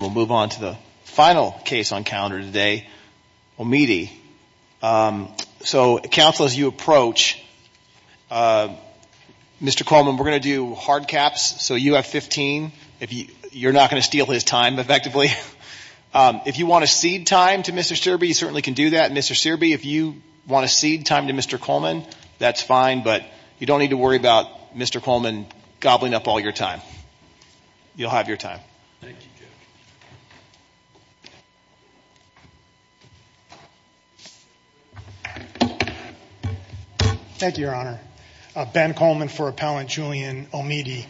We'll move on to the final case on calendar today, Omidi. So counsel, as you approach Mr. Coleman, we're going to do hard caps, so you have 15. You're not going to steal his time, effectively. If you want to cede time to Mr. Searby, you certainly can do that. Mr. Searby, if you want to cede time to Mr. Coleman, that's fine, but you don't need to worry about Mr. Coleman gobbling up all your time. You'll have your time. Thank you, Judge. Thank you, Your Honor. Ben Coleman for Appellant Julian Omidi.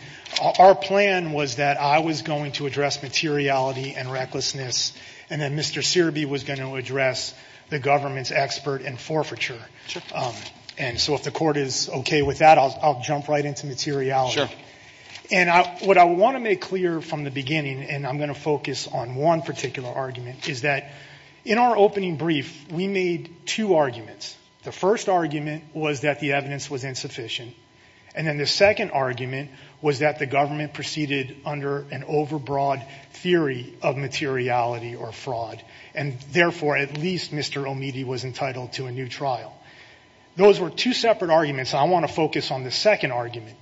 Our plan was that I was going to address materiality and recklessness, and then Mr. Searby was going to address the government's expert in forfeiture. And so if the court is okay with that, I'll jump right into materiality. And what I want to make clear from the beginning, and I'm going to focus on one particular argument, is that in our opening brief, we made two arguments. The first argument was that the evidence was insufficient. And then the second argument was that the government proceeded under an overbroad theory of materiality or fraud, and therefore at least Mr. Omidi was entitled to a new trial. Those were two separate arguments. I want to focus on the second argument.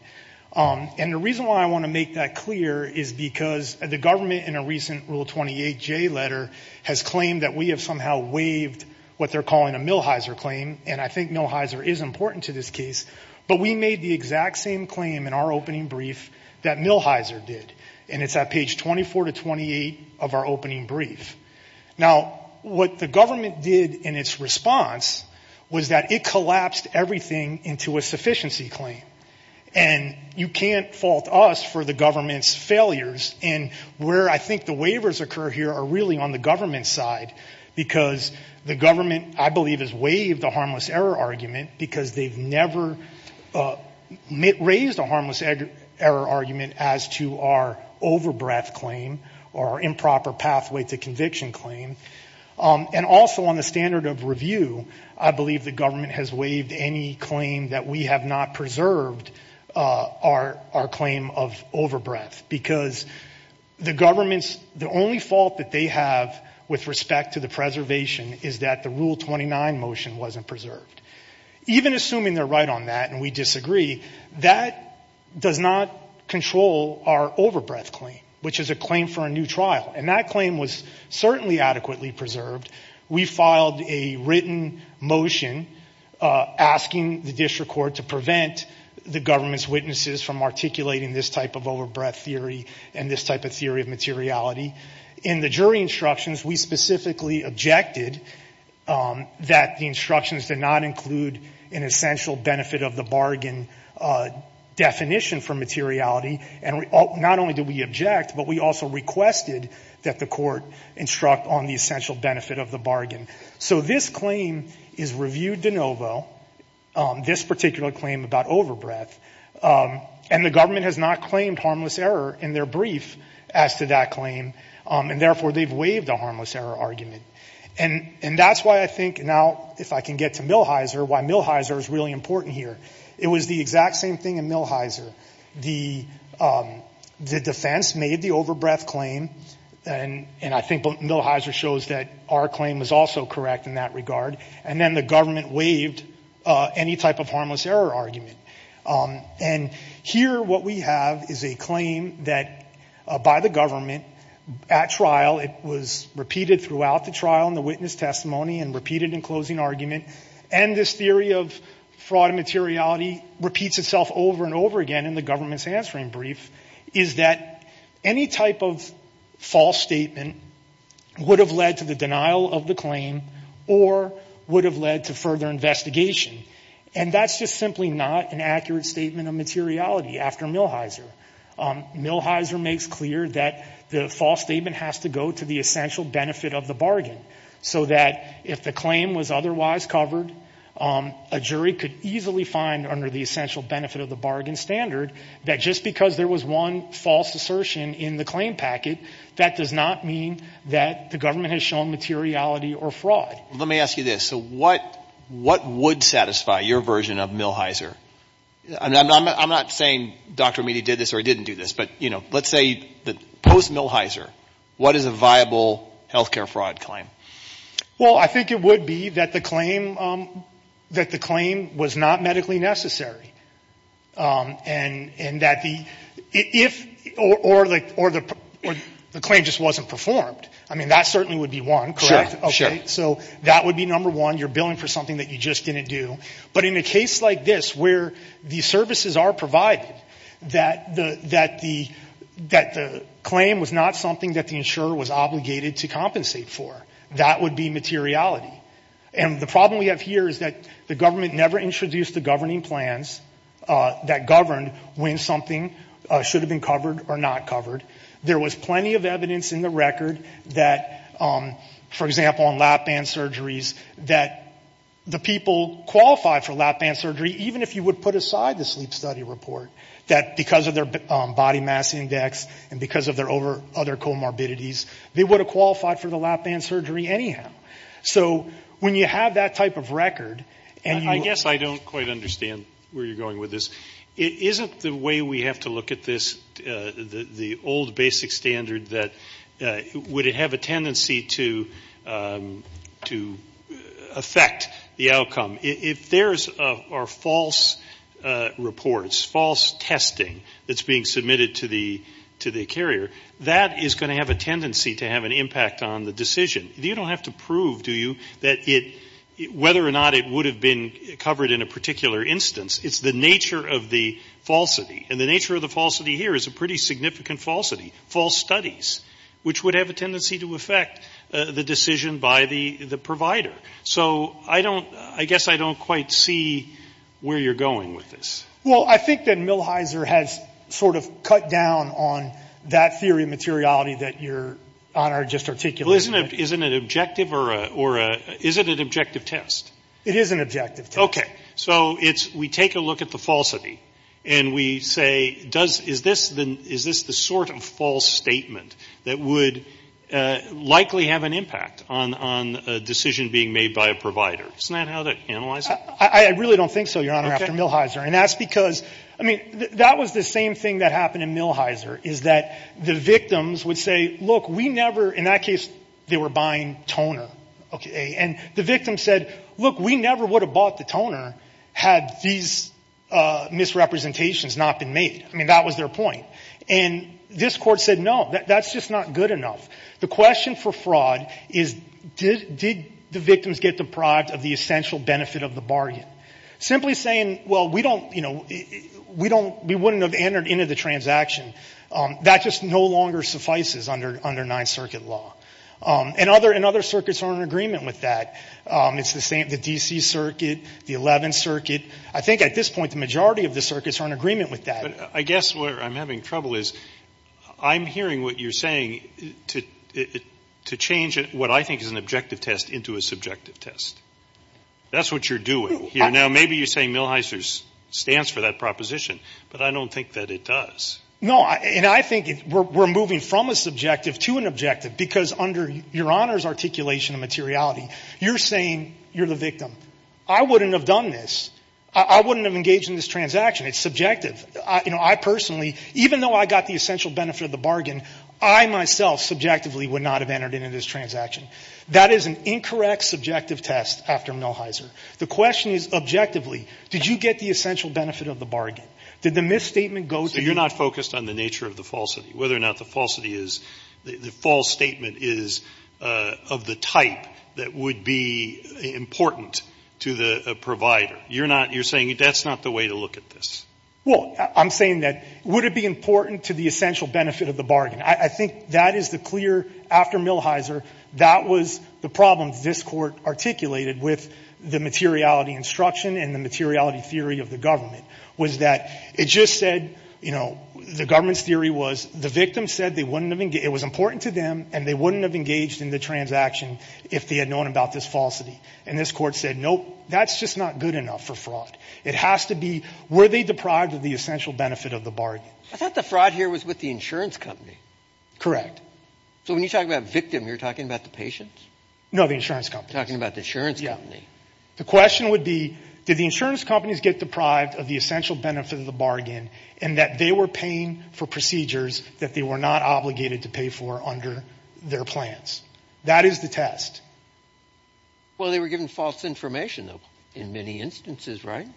And the reason why I want to make that clear is because the government in a recent Rule 28J letter has claimed that we have somehow waived what they're calling a Millhiser claim, and I think Millhiser is important to this case, but we made the exact same claim in our opening brief that Millhiser did, and it's at page 24 to 28 of our opening brief. Now, what the government did in its response was that it collapsed everything into a sufficiency claim. And you can't fault us for the government's failures, and where I think the waivers occur here are really on the government's side, because the government, I believe, has waived the harmless error argument because they've never raised a harmless error argument as to our overbreath claim or improper pathway to conviction claim. And also on the standard of review, I believe the government has waived any claim that we have not preserved our claim of overbreath, because the government's, the only fault that they have with respect to the preservation is that the Rule 29 motion wasn't preserved. Even assuming they're right on that and we disagree, that does not control our overbreath claim, which is a claim for a new trial, and that claim was certainly adequately preserved. We filed a written motion asking the district court to prevent the government's witnesses from articulating this type of overbreath theory and this type of theory of materiality. In the jury instructions, we specifically objected that the instructions did not include an essential benefit of the bargain definition for materiality, and not only did we object, but we also requested that the court instruct on the essential benefit of the bargain. So this claim is reviewed de novo, this particular claim about overbreath, and the government has not claimed harmless error in their brief as to that claim, and therefore they've waived the harmless error argument. And that's why I think now, if I can get to Millhiser, why Millhiser is really important here. It was the exact same thing in Millhiser. The defense made the overbreath claim, and I think Millhiser shows that our claim was also correct in that regard, and then the government waived any type of harmless error argument. And here what we have is a claim that, by the government, at trial, it was repeated throughout the trial in the witness testimony and repeated in closing argument, and this theory of fraud and materiality repeats itself over and over again in the government's answering brief, is that any type of false statement would have led to the denial of the claim or would have led to further investigation. And that's just simply not an accurate statement of materiality after Millhiser. Millhiser makes clear that the false statement has to go to the essential benefit of the bargain, so that if the claim was otherwise covered, a jury could easily find, under the essential benefit of the bargain standard, that just because there was one false assertion in the claim packet, that does not mean that the government has shown materiality or fraud. Let me ask you this. So what would satisfy your version of Millhiser? I'm not saying Dr. Amidi did this or didn't do this, but, you know, let's say post-Millhiser, what is a viable health care fraud claim? Well, I think it would be that the claim was not medically necessary, and that the, if, or the claim just wasn't performed. I mean, that certainly would be one, correct? Sure. So that would be number one, you're billing for something that you just didn't do. But in a case like this, where the services are provided, that the claim was not something that the insurer was obligated to compensate for, that would be materiality. And the problem we have here is that the government never introduced the governing plans that governed when something should have been covered or not covered. There was plenty of evidence in the record that, for example, on lap band surgeries, that the people qualified for lap band surgery, even if you would put aside the sleep study report, that because of their body mass index and because of their other comorbidities, they would have qualified for the lap band surgery anyhow. So when you have that type of record, and you. I guess I don't quite understand where you're going with this. Isn't the way we have to look at this, the old basic standard, that would it have a tendency to affect the outcome? If there are false reports, false testing that's being submitted to the carrier, that is going to have a tendency to have an impact on the decision. You don't have to prove, do you, whether or not it would have been covered in a particular instance. It's the nature of the falsity. And the nature of the falsity here is a pretty significant falsity, false studies, which would have a tendency to affect the decision by the provider. So I don't, I guess I don't quite see where you're going with this. Well, I think that Millhiser has sort of cut down on that theory of materiality that Your Honor just articulated. Isn't it objective or, is it an objective test? It is an objective test. Okay. So it's, we take a look at the falsity and we say, does, is this the, is this the sort of false statement that would likely have an impact on a decision being made by a provider? Isn't that how they analyze it? I really don't think so, Your Honor, after Millhiser. And that's because, I mean, that was the same thing that happened in Millhiser, is that the victims would say, look, we never, in that case, they were buying toner. Okay, and the victim said, look, we never would have bought the toner had these misrepresentations not been made. I mean, that was their point. And this court said, no, that's just not good enough. The question for fraud is, did the victims get deprived of the essential benefit of the bargain? Simply saying, well, we don't, you know, we don't, we wouldn't have entered into the transaction. That just no longer suffices under Ninth Circuit law. And other circuits are in agreement with that. It's the same, the DC Circuit, the 11th Circuit. I think at this point, the majority of the circuits are in agreement with that. I guess where I'm having trouble is, I'm hearing what you're saying to change what I think is an objective test into a subjective test. That's what you're doing here. Now, maybe you're saying Millhiser stands for that proposition. But I don't think that it does. No, and I think we're moving from a subjective to an objective. Because under Your Honor's articulation of materiality, you're saying you're the victim. I wouldn't have done this. I wouldn't have engaged in this transaction. It's subjective. You know, I personally, even though I got the essential benefit of the bargain, I myself subjectively would not have entered into this transaction. That is an incorrect subjective test after Millhiser. The question is objectively, did you get the essential benefit of the bargain? Did the misstatement go to the- misstatement is of the type that would be important to the provider. You're not, you're saying that's not the way to look at this. Well, I'm saying that, would it be important to the essential benefit of the bargain? I think that is the clear, after Millhiser, that was the problem this Court articulated with the materiality instruction and the materiality theory of the government, was that it just said, you know, the government's theory was the victim said they wouldn't have engaged, it was important to them and they wouldn't have engaged in the transaction if they had known about this falsity. And this Court said, nope, that's just not good enough for fraud. It has to be, were they deprived of the essential benefit of the bargain? I thought the fraud here was with the insurance company. Correct. So when you talk about victim, you're talking about the patient? No, the insurance company. You're talking about the insurance company. The question would be, did the insurance companies get deprived of the essential benefit of the bargain and that they were paying for procedures that they were not obligated to pay for under their plans? That is the test. Well, they were given false information, though, in many instances, right?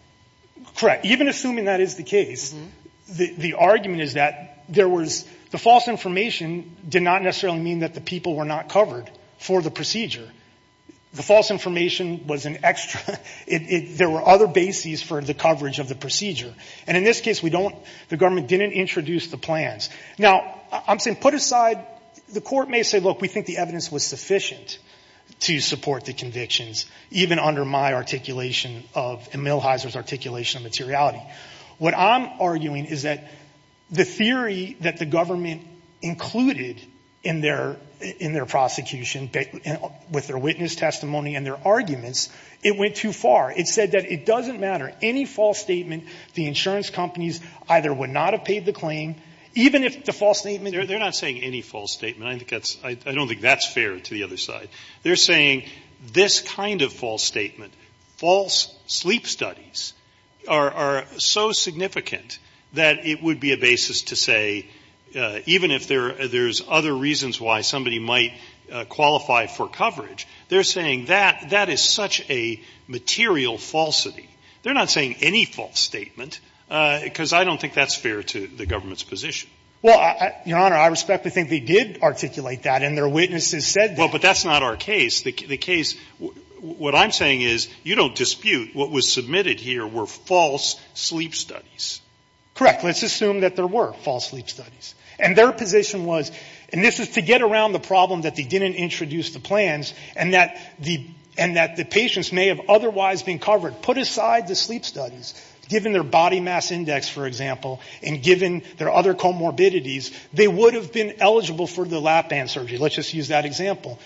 Correct. Even assuming that is the case, the argument is that there was, the false information did not necessarily mean that the people were not covered for the procedure. The false information was an extra, there were other bases for the coverage of the procedure. And in this case, we don't, the government didn't introduce the plans. Now, I'm saying put aside, the court may say, look, we think the evidence was sufficient to support the convictions, even under my articulation of, and Milhiser's articulation of materiality. What I'm arguing is that the theory that the government included in their prosecution, with their witness testimony and their arguments, it went too far. It said that it doesn't matter. Any false statement, the insurance companies either would not have paid the claim, even if the false statement. They're not saying any false statement. I think that's, I don't think that's fair to the other side. They're saying this kind of false statement, false sleep studies, are so significant that it would be a basis to say, even if there's other reasons why somebody might qualify for coverage, they're saying that that is such a material falsity. They're not saying any false statement, because I don't think that's fair to the government's position. Well, Your Honor, I respectfully think they did articulate that, and their witnesses said that. Well, but that's not our case. The case, what I'm saying is, you don't dispute what was submitted here were false sleep studies. Correct. Let's assume that there were false sleep studies. And their position was, and this is to get around the problem that they didn't introduce the plans, and that the patients may have otherwise been covered. Put aside the sleep studies, given their body mass index, for example, and given their other comorbidities, they would have been eligible for the lap band surgery. Let's just use that example.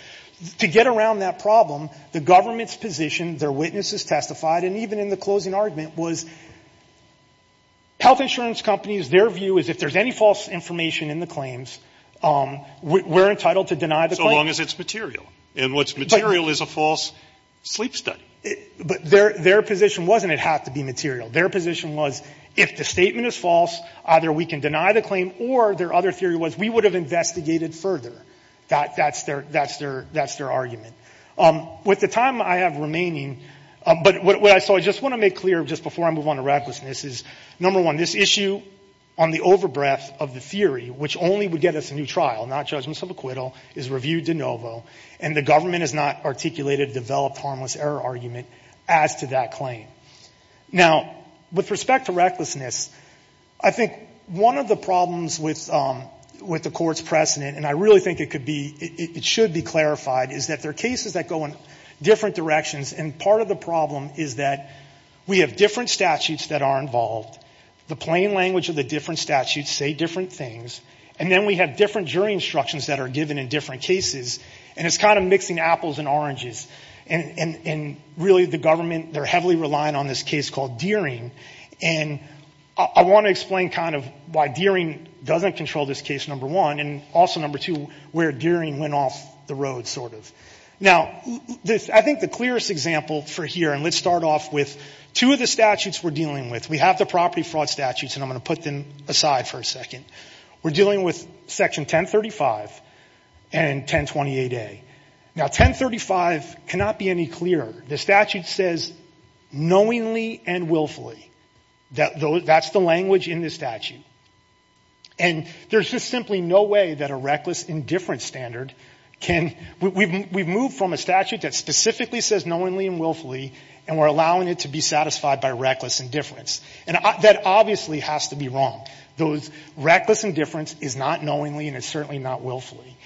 To get around that problem, the government's position, their witnesses testified, and even in the closing argument, was health insurance companies, their view is if there's any false information in the claims, we're entitled to deny the claims. So long as it's material. And what's material is a false sleep study. But their position wasn't it had to be material. Their position was, if the statement is false, either we can deny the claim, or their other theory was, we would have investigated further. That's their argument. With the time I have remaining, but what I saw, I just want to make clear, just before I move on to Radcliffe's, and this is, number one, this issue on the over breadth of the theory, which only would get us a new trial, not judgments of acquittal, is viewed de novo, and the government has not articulated a developed harmless error argument as to that claim. Now, with respect to recklessness, I think one of the problems with the court's precedent, and I really think it should be clarified, is that there are cases that go in different directions, and part of the problem is that we have different statutes that are involved, the plain language of the different statutes say different things, and then we have different jury instructions that are given in different cases, and it's kind of mixing apples and oranges, and really the government, they're heavily relying on this case called Deering, and I want to explain kind of why Deering doesn't control this case, number one, and also, number two, where Deering went off the road, sort of. Now, I think the clearest example for here, and let's start off with two of the statutes we're dealing with. We have the property fraud statutes, and I'm going to put them aside for a second. We're dealing with section 1035 and 1028A. Now, 1035 cannot be any clearer. The statute says knowingly and willfully. That's the language in the statute, and there's just simply no way that a reckless indifference standard can we've moved from a statute that specifically says knowingly and willfully, and we're allowing it to be satisfied by reckless indifference, and that obviously has to be wrong. Reckless indifference is not knowingly, and it's certainly not willfully,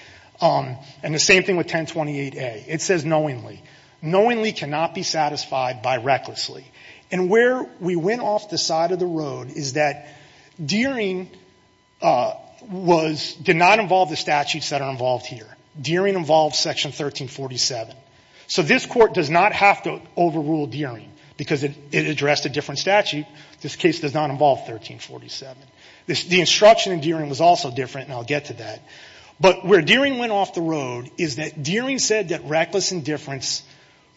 and the same thing with 1028A. It says knowingly. Knowingly cannot be satisfied by recklessly, and where we went off the side of the road is that Deering did not involve the statutes that are involved here. Deering involves section 1347, so this court does not have to overrule Deering because it addressed a different statute. This case does not involve 1347. The instruction in Deering was also different, and I'll get to that, but where Deering went off the road is that Deering said that reckless indifference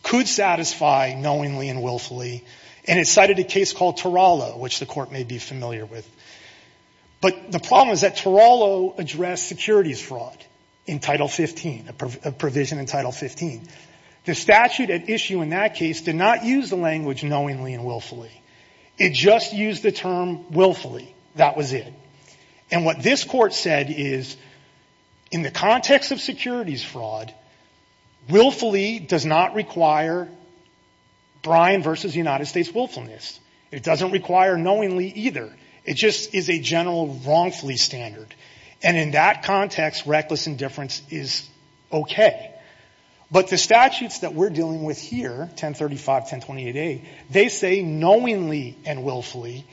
could satisfy knowingly and willfully, and it cited a case called Turalo, which the court may be familiar with, but the problem is that Turalo addressed securities fraud in Title 15, a provision in Title 15. The statute at issue in that case did not use the language knowingly and willfully. It just used the term willfully. That was it, and what this court said is in the context of securities fraud, willfully does not require Bryan versus United States willfulness. It doesn't require knowingly either. It just is a general wrongfully standard, and in that context, reckless indifference is okay, but the statutes that we're dealing with here, 1035, 1028A, they say knowingly and willfully,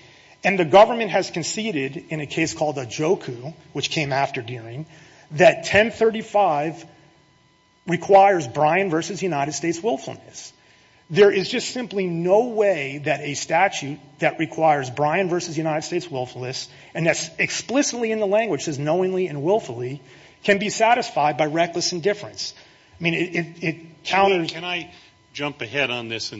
and the government has conceded in a case called Ajoku, which came after Deering, that 1035 requires Bryan versus United States willfulness. There is just simply no way that a statute that requires Bryan versus United States willfulness and that's explicitly in the language says knowingly and willfully can be satisfied by reckless indifference. I mean, it counters. Can I jump ahead on this?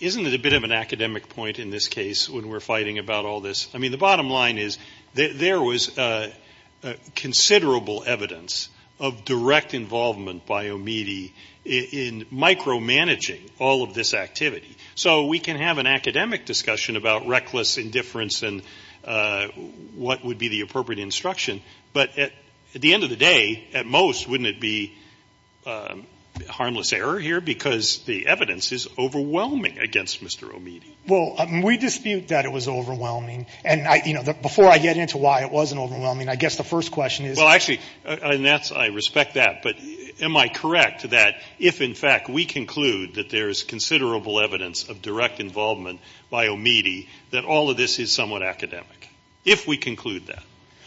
Isn't it a bit of an academic point in this case when we're fighting about all this? I mean, the bottom line is that there was considerable evidence of direct involvement by OMIDI in micromanaging all of this activity. So we can have an academic discussion about reckless indifference and what would be the appropriate instruction, but at the end of the day, at most, wouldn't it be harmless error here because the evidence is overwhelming against Mr. OMIDI? Well, we dispute that it was overwhelming, and before I get into why it wasn't overwhelming, I guess the first question is. Well, actually, and I respect that, but am I correct that if, in fact, we conclude that there is considerable evidence of direct involvement by OMIDI, that all of this is somewhat academic, if we conclude that?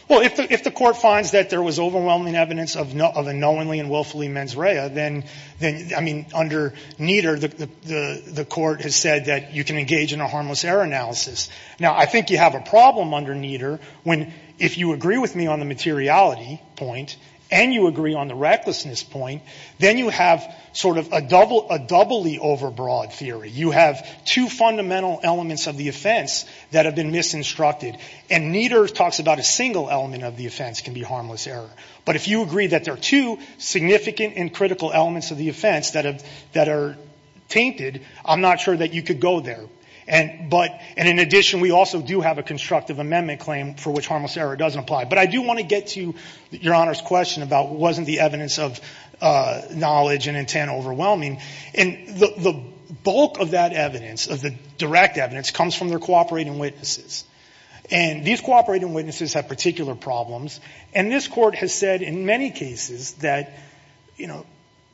Well, if the Court finds that there was overwhelming evidence of a knowingly and willfully mens rea, then, I mean, under Nieder, the Court has said that you can engage in a harmless error analysis. Now, I think you have a problem under Nieder when, if you agree with me on the materiality point and you agree on the recklessness point, then you have sort of a doubly overbroad theory. You have two fundamental elements of the offense that have been misinstructed, and Nieder talks about a single element of the offense can be harmless error. But if you agree that there are two significant and critical elements of the offense that are tainted, I'm not sure that you could go there. And in addition, we also do have a constructive amendment claim for which harmless error doesn't apply. But I do want to get to Your Honor's question about wasn't the evidence of knowledge and intent overwhelming. And the bulk of that evidence, of the direct evidence, comes from their cooperating witnesses. And these cooperating witnesses have particular problems. And this Court has said in many cases that, you know,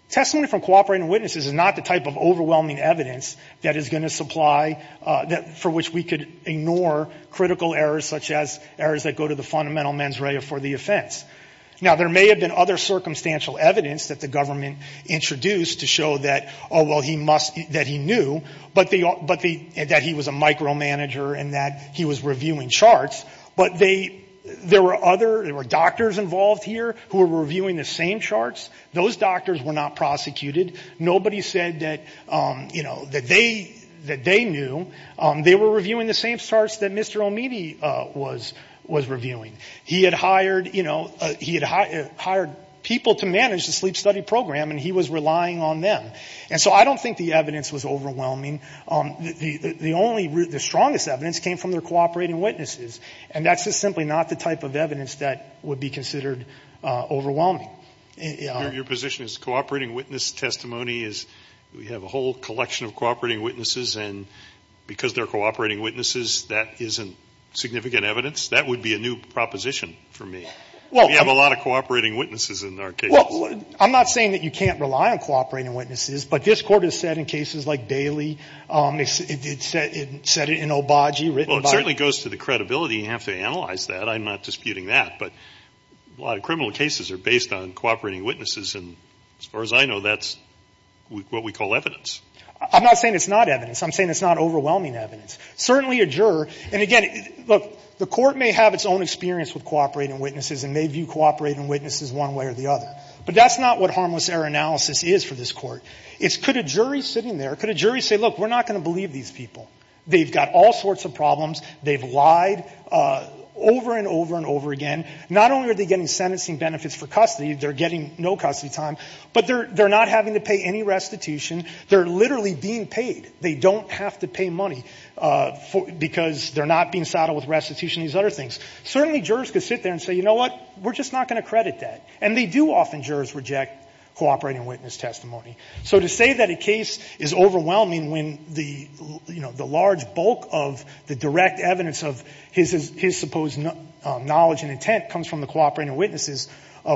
testimony from cooperating witnesses is not the type of overwhelming evidence that is going to supply for which we could ignore critical errors such as errors that go to the fundamental mens rea for the offense. Now, there may have been other circumstantial evidence that the government introduced to show that, oh, well, he must, that he knew, but the, that he was a micromanager and that he was reviewing charts. But they, there were other, there were doctors involved here who were reviewing the same charts. Those doctors were not prosecuted. Nobody said that, you know, that they knew. They were reviewing the same charts that Mr. Omidi was reviewing. He had hired, you know, he had hired people to manage the sleep study program and he was relying on them. And so I don't think the evidence was overwhelming. The only, the strongest evidence came from their cooperating witnesses. And that's just simply not the type of evidence that would be considered overwhelming. Your position is cooperating witness testimony is, we have a whole collection of cooperating witnesses and because they're cooperating witnesses, that isn't significant evidence. That would be a new proposition for me. We have a lot of cooperating witnesses in our case. Well, I'm not saying that you can't rely on cooperating witnesses, but this Court has said in cases like Bailey, it said it in Obagi, written by. Well, it certainly goes to the credibility. You have to analyze that. I'm not disputing that. But a lot of criminal cases are based on cooperating witnesses. And as far as I know, that's what we call evidence. I'm not saying it's not evidence. I'm saying it's not overwhelming evidence. Certainly a juror. And again, look, the Court may have its own experience with cooperating witnesses and may view cooperating witnesses one way or the other. But that's not what harmless error analysis is for this Court. It's could a jury sitting there, could a jury say, look, we're not going to believe these people. They've got all sorts of problems. They've lied over and over and over again. Not only are they getting sentencing benefits for custody, they're getting no custody time, but they're not having to pay any restitution. They're literally being paid. They don't have to pay money because they're not being saddled with restitution and these other things. Certainly jurors could sit there and say, you know what, we're just not going to credit that. And they do often, jurors reject cooperating witness testimony. So to say that a case is overwhelming when the, you know, the large bulk of the direct evidence of his supposed knowledge and intent comes from the cooperating witnesses,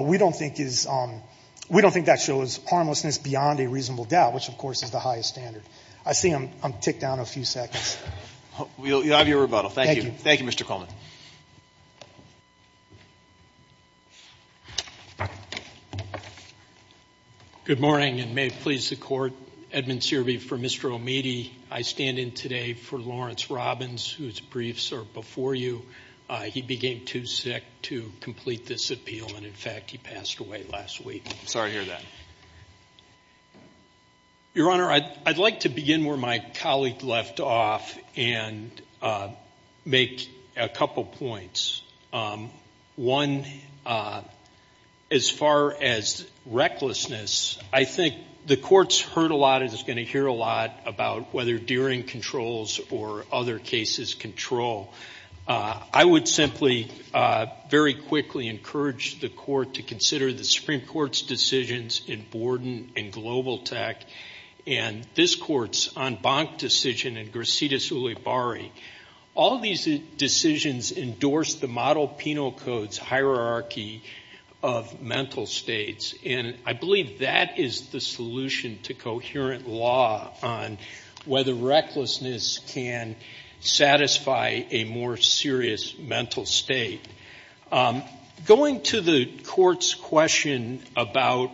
we don't think that shows harmlessness beyond a reasonable doubt, which, of course, is the highest standard. I see I'm ticked down a few seconds. We'll have your rebuttal. Thank you. Thank you, Mr. Coleman. Good morning and may it please the court, Edmund Searby for Mr. O'Meady. I stand in today for Lawrence Robbins, whose briefs are before you. He became too sick to complete this appeal. And in fact, he passed away last week. Sorry to hear that. Your Honor, I'd like to begin where my colleague left off and make a couple points. One, as far as recklessness, I think the court's heard a lot and is going to hear a lot about whether Deering controls or other cases control. I would simply very quickly encourage the court to consider the Supreme Court's decisions in Borden and Global Tech and this court's en banc decision in Gracidas Ulibarri. All these decisions endorse the model penal code's hierarchy of mental states. And I believe that is the solution to coherent law on whether recklessness can satisfy a more serious mental state. Going to the court's question about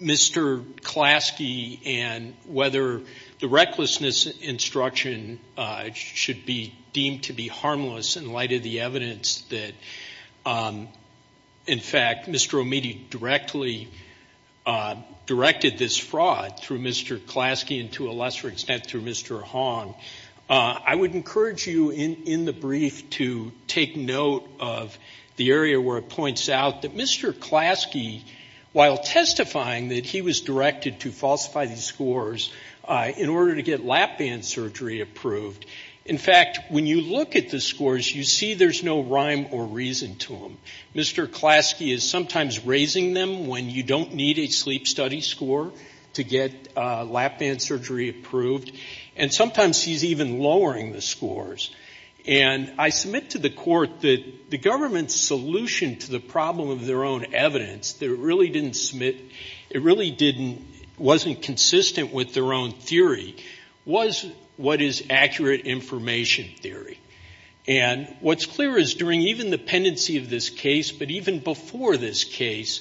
Mr. Klaski and whether the recklessness instruction should be deemed to be harmless in light of the evidence that, in fact, Mr. O'Meady directly directed this fraud through Mr. Klaski and to a lesser extent through Mr. Hong, I would encourage you in the brief to take note of the area where it points out that Mr. Klaski, while testifying, that he was directed to falsify these scores in order to get lap band surgery approved. In fact, when you look at the scores, you see there's no rhyme or reason to them. Mr. Klaski is sometimes raising them when you don't need a sleep study score to get lap band surgery approved and sometimes he's even lowering the scores. And I submit to the court that the government's solution to the problem of their own evidence that it really didn't submit, it really didn't, wasn't consistent with their own theory was what is accurate information theory. And what's clear is during even the pendency of this case, but even before this case,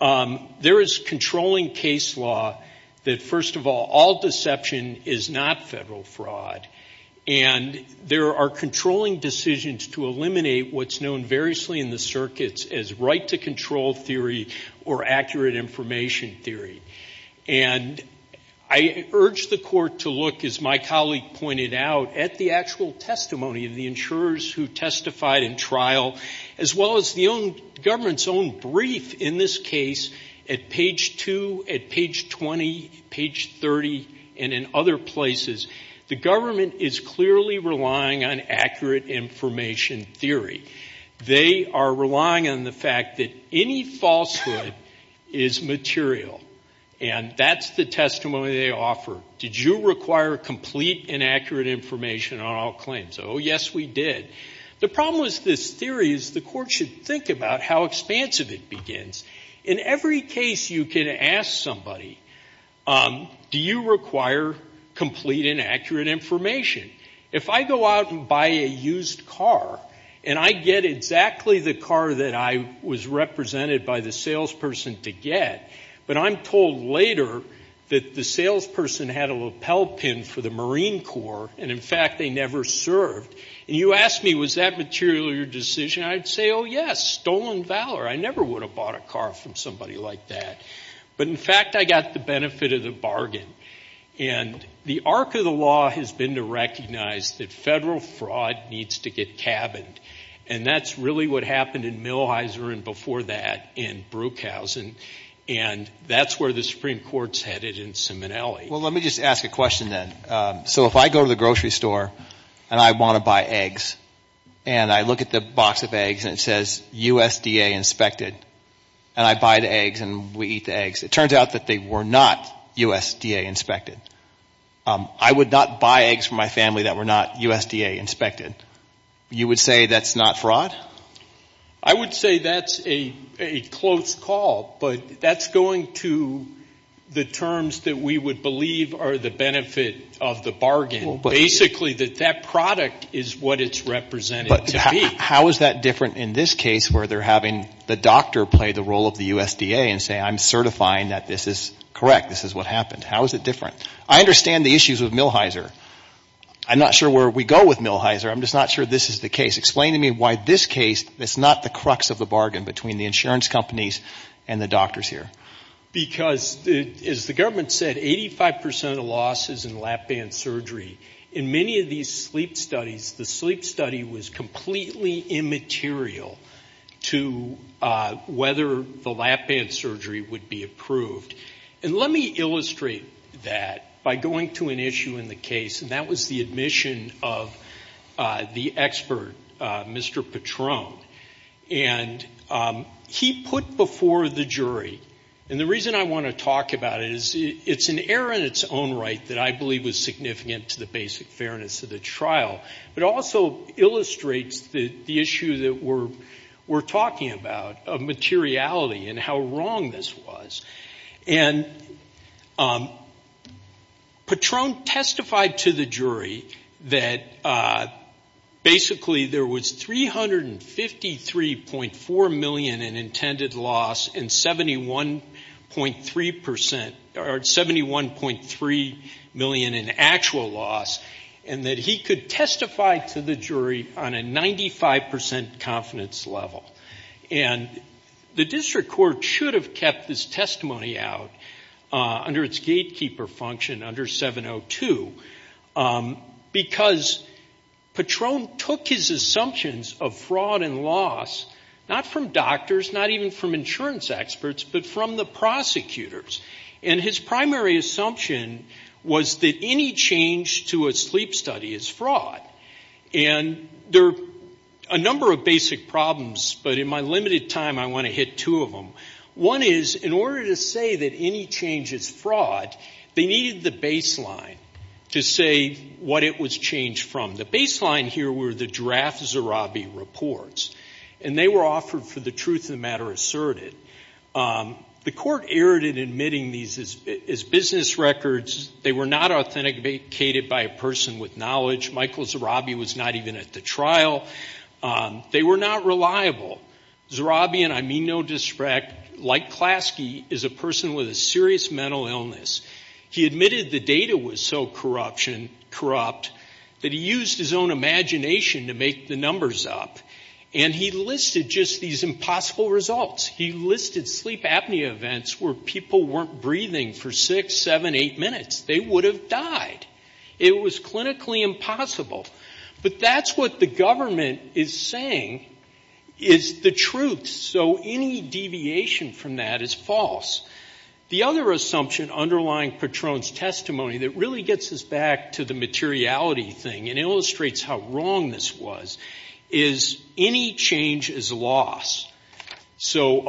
there is controlling case law that, first of all, all deception is not federal fraud. And there are controlling decisions to eliminate what's known variously in the circuits as right to control theory or accurate information theory. And I urge the court to look, as my colleague pointed out, at the actual testimony of the insurers who testified in trial as well as the government's own brief in this case at page 2, at page 20, page 30, and in other places. The government is clearly relying on accurate information theory. They are relying on the fact that any falsehood is material. And that's the testimony they offer. Did you require complete and accurate information on all claims? Oh, yes, we did. The problem with this theory is the court should think about how expansive it begins. In every case you can ask somebody, do you require complete and accurate information? If I go out and buy a used car and I get exactly the car that I was represented by the salesperson to get, but I'm told later that the salesperson had a lapel pin for the Marine Corps and, in fact, they never served, and you ask me, was that material your decision, I'd say, oh, yes, stolen valor. I never would have bought a car from somebody like that. But, in fact, I got the benefit of the bargain. And the arc of the law has been to recognize that federal fraud needs to get cabined. And that's really what happened in Millhiser and before that in Brueghausen. And that's where the Supreme Court's headed in Simonelli. Well, let me just ask a question then. So if I go to the grocery store and I want to buy eggs and I look at the box of eggs and it says USDA inspected, and I buy the eggs and we eat the eggs, it turns out that they were not USDA inspected. I would not buy eggs from my family that were not USDA inspected. You would say that's not fraud? I would say that's a close call, but that's going to the terms that we would believe are the benefit of the bargain. Basically, that that product is what it's represented to be. How is that different in this case where they're having the doctor play the role of the USDA and say I'm certifying that this is correct, this is what happened? How is it different? I understand the issues of Millhiser. I'm not sure where we go with Millhiser. I'm just not sure this is the case. Explain to me why this case is not the crux of the bargain between the insurance companies and the doctors here. Because, as the government said, 85% of the loss is in lap band surgery. In many of these sleep studies, the sleep study was completely immaterial to whether the lap band surgery would be approved. And let me illustrate that by going to an issue in the case, and that was the admission of the expert, Mr. Patron. And he put before the jury, and the reason I want to talk about it is it's an error in its own right that I believe was significant to the basic fairness of the trial. It also illustrates the issue that we're talking about of materiality and how wrong this was. And Patron testified to the jury that basically there was 353.4 million in intended loss and 71.3 million in actual loss, and that he could testify to the jury on a 95% confidence level. And the district court should have kept this testimony out under its gatekeeper function, under 702, because Patron took his assumptions of fraud and loss, not from doctors, not even from insurance experts, but from the prosecutors. And his primary assumption was that any change to a sleep study is fraud. And there are a number of basic problems, but in my limited time, I want to hit two of them. One is, in order to say that any change is fraud, they needed the baseline to say what it was changed from. The baseline here were the draft Zarabi reports, and they were offered for the truth of the matter asserted. The court erred in admitting these as business records. They were not authenticated by a person with knowledge. Michael Zarabi was not even at the trial. They were not reliable. Zarabi, and I mean no disrespect, like Klasky, is a person with a serious mental illness. He admitted the data was so corrupt that he used his own imagination to make the numbers up. And he listed just these impossible results. He listed sleep apnea events where people weren't breathing for six, seven, eight minutes. They would have died. It was clinically impossible. But that's what the government is saying is the truth, so any deviation from that is false. The other assumption underlying Patron's testimony that really gets us back to the materiality thing and illustrates how wrong this was is any change is loss. So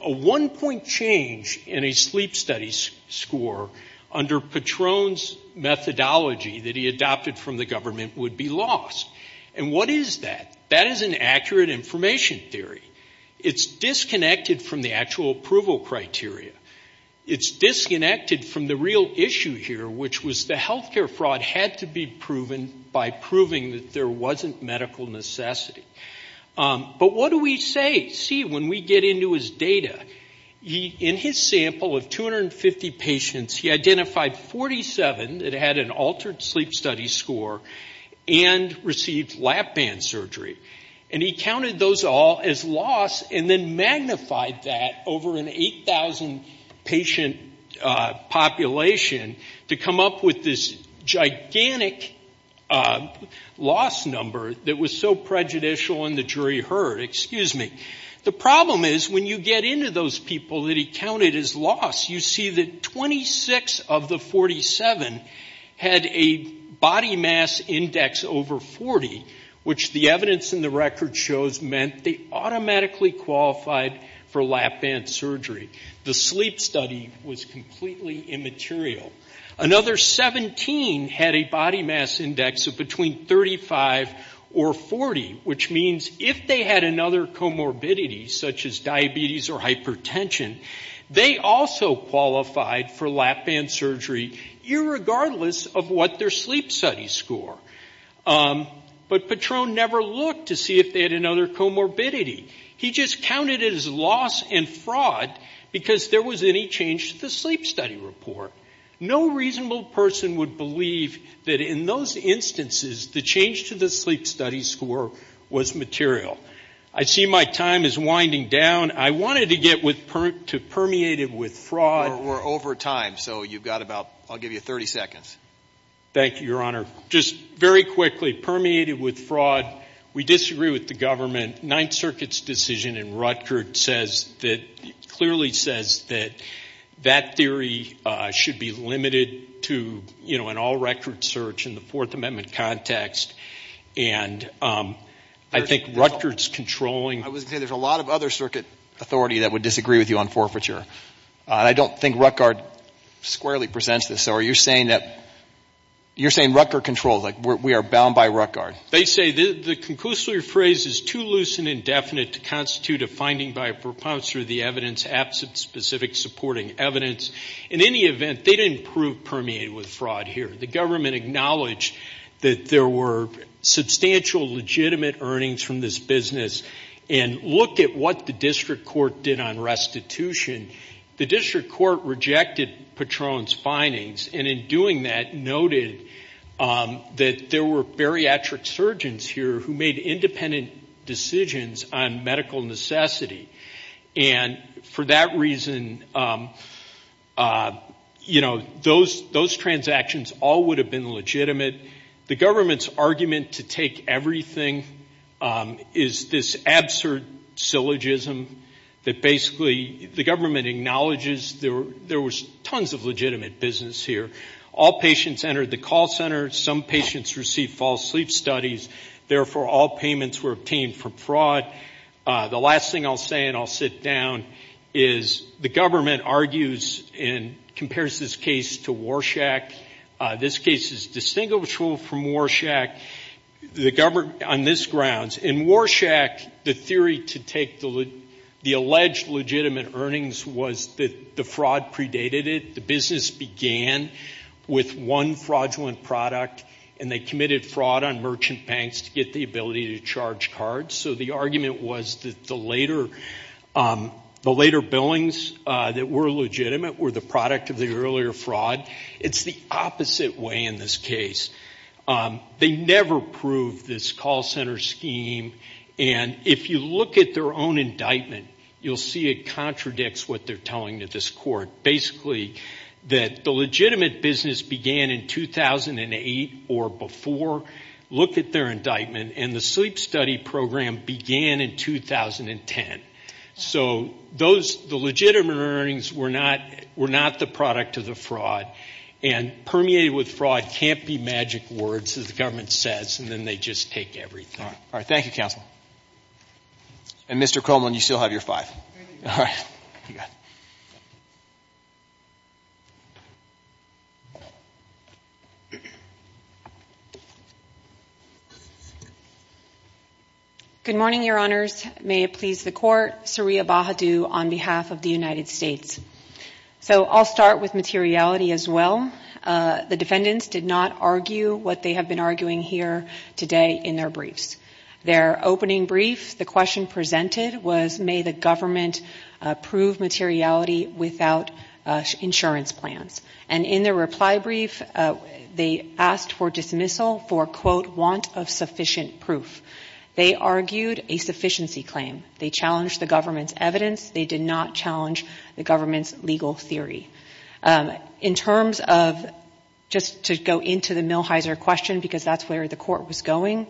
a one-point change in a sleep study score under Patron's methodology that he adopted from the government would be loss. And what is that? That is an accurate information theory. It's disconnected from the actual approval criteria. It's disconnected from the real issue here, which was the healthcare fraud had to be proven by proving that there wasn't medical necessity. But what do we see when we get into his data? In his sample of 250 patients, he identified 47 that had an altered sleep study score and received lap band surgery. And he counted those all as loss and then magnified that over an 8,000 patient population to come up with this gigantic loss number that was so prejudicial and the jury heard. Excuse me. The problem is when you get into those people that he counted as loss, you see that 26 of the 47 had a body mass index over 40, which the evidence in the record shows meant they automatically qualified for lap band surgery. The sleep study was completely immaterial. Another 17 had a body mass index of between 35 or 40, which means if they had another comorbidity such as diabetes or hypertension, they also qualified for lap band surgery irregardless of what their sleep study score. But Patron never looked to see if they had another comorbidity. He just counted it as loss and fraud because there was any change to the sleep study report. No reasonable person would believe that in those instances the change to the sleep study score was material. I see my time is winding down. I wanted to get to permeated with fraud. We're over time, so you've got about, I'll give you 30 seconds. Thank you, Your Honor. Just very quickly, permeated with fraud, we disagree with the government. Ninth Circuit's decision in Rutger says that, clearly says that that theory should be limited to, you know, an all-record search in the Fourth Amendment context. And I think Rutger's controlling. I was going to say, there's a lot of other circuit authority that would disagree with you on forfeiture. I don't think Rutger squarely presents this. So are you saying that, you're saying Rutger controls, like we are bound by Rutger? They say the conclusory phrase is too loose and indefinite to constitute a finding by a propouncer of the evidence absent specific supporting evidence. In any event, they didn't prove permeated with fraud here. The government acknowledged that there were substantial legitimate earnings from this business and looked at what the district court did on restitution. The district court rejected Patron's findings, and in doing that, noted that there were bariatric surgeons here who made independent decisions on medical necessity. And for that reason, you know, those transactions all would have been legitimate. The government's argument to take everything is this absurd syllogism that basically the government acknowledges there was tons of legitimate business here. All patients entered the call center. Some patients received false sleep studies. Therefore, all payments were obtained for fraud. The last thing I'll say, and I'll sit down, is the government argues and compares this case to Warshak. This case is distinguishable from Warshak on this grounds. In Warshak, the theory to take the alleged legitimate earnings was that the fraud predated it. The business began with one fraudulent product, and they committed fraud on merchant banks to get the ability to charge cards. So the argument was that the later billings that were legitimate were the product of the earlier fraud. It's the opposite way in this case. They never proved this call center scheme, and if you look at their own indictment, you'll see it contradicts what they're telling to this court. Basically, that the legitimate business began in 2008 or before, looked at their indictment, and the sleep study program began in 2010. So those, the legitimate earnings were not the product of the fraud, and permeated with fraud can't be magic words, as the government says, and then they just take everything. All right. Thank you, counsel. And Mr. Coleman, you still have your five. All right. You got it. Good morning, your honors. May it please the court. Saria Bahadur on behalf of the United States. So I'll start with materiality as well. The defendants did not argue what they have been arguing here today in their briefs. Their opening brief, the question presented was, may the government prove materiality without insurance plans. And in their reply brief, they asked for dismissal for, quote, want of sufficient proof. They argued a sufficiency claim. They challenged the government's evidence. They did not challenge the government's legal theory. In terms of, just to go into the Millheiser question, because that's where the court was going,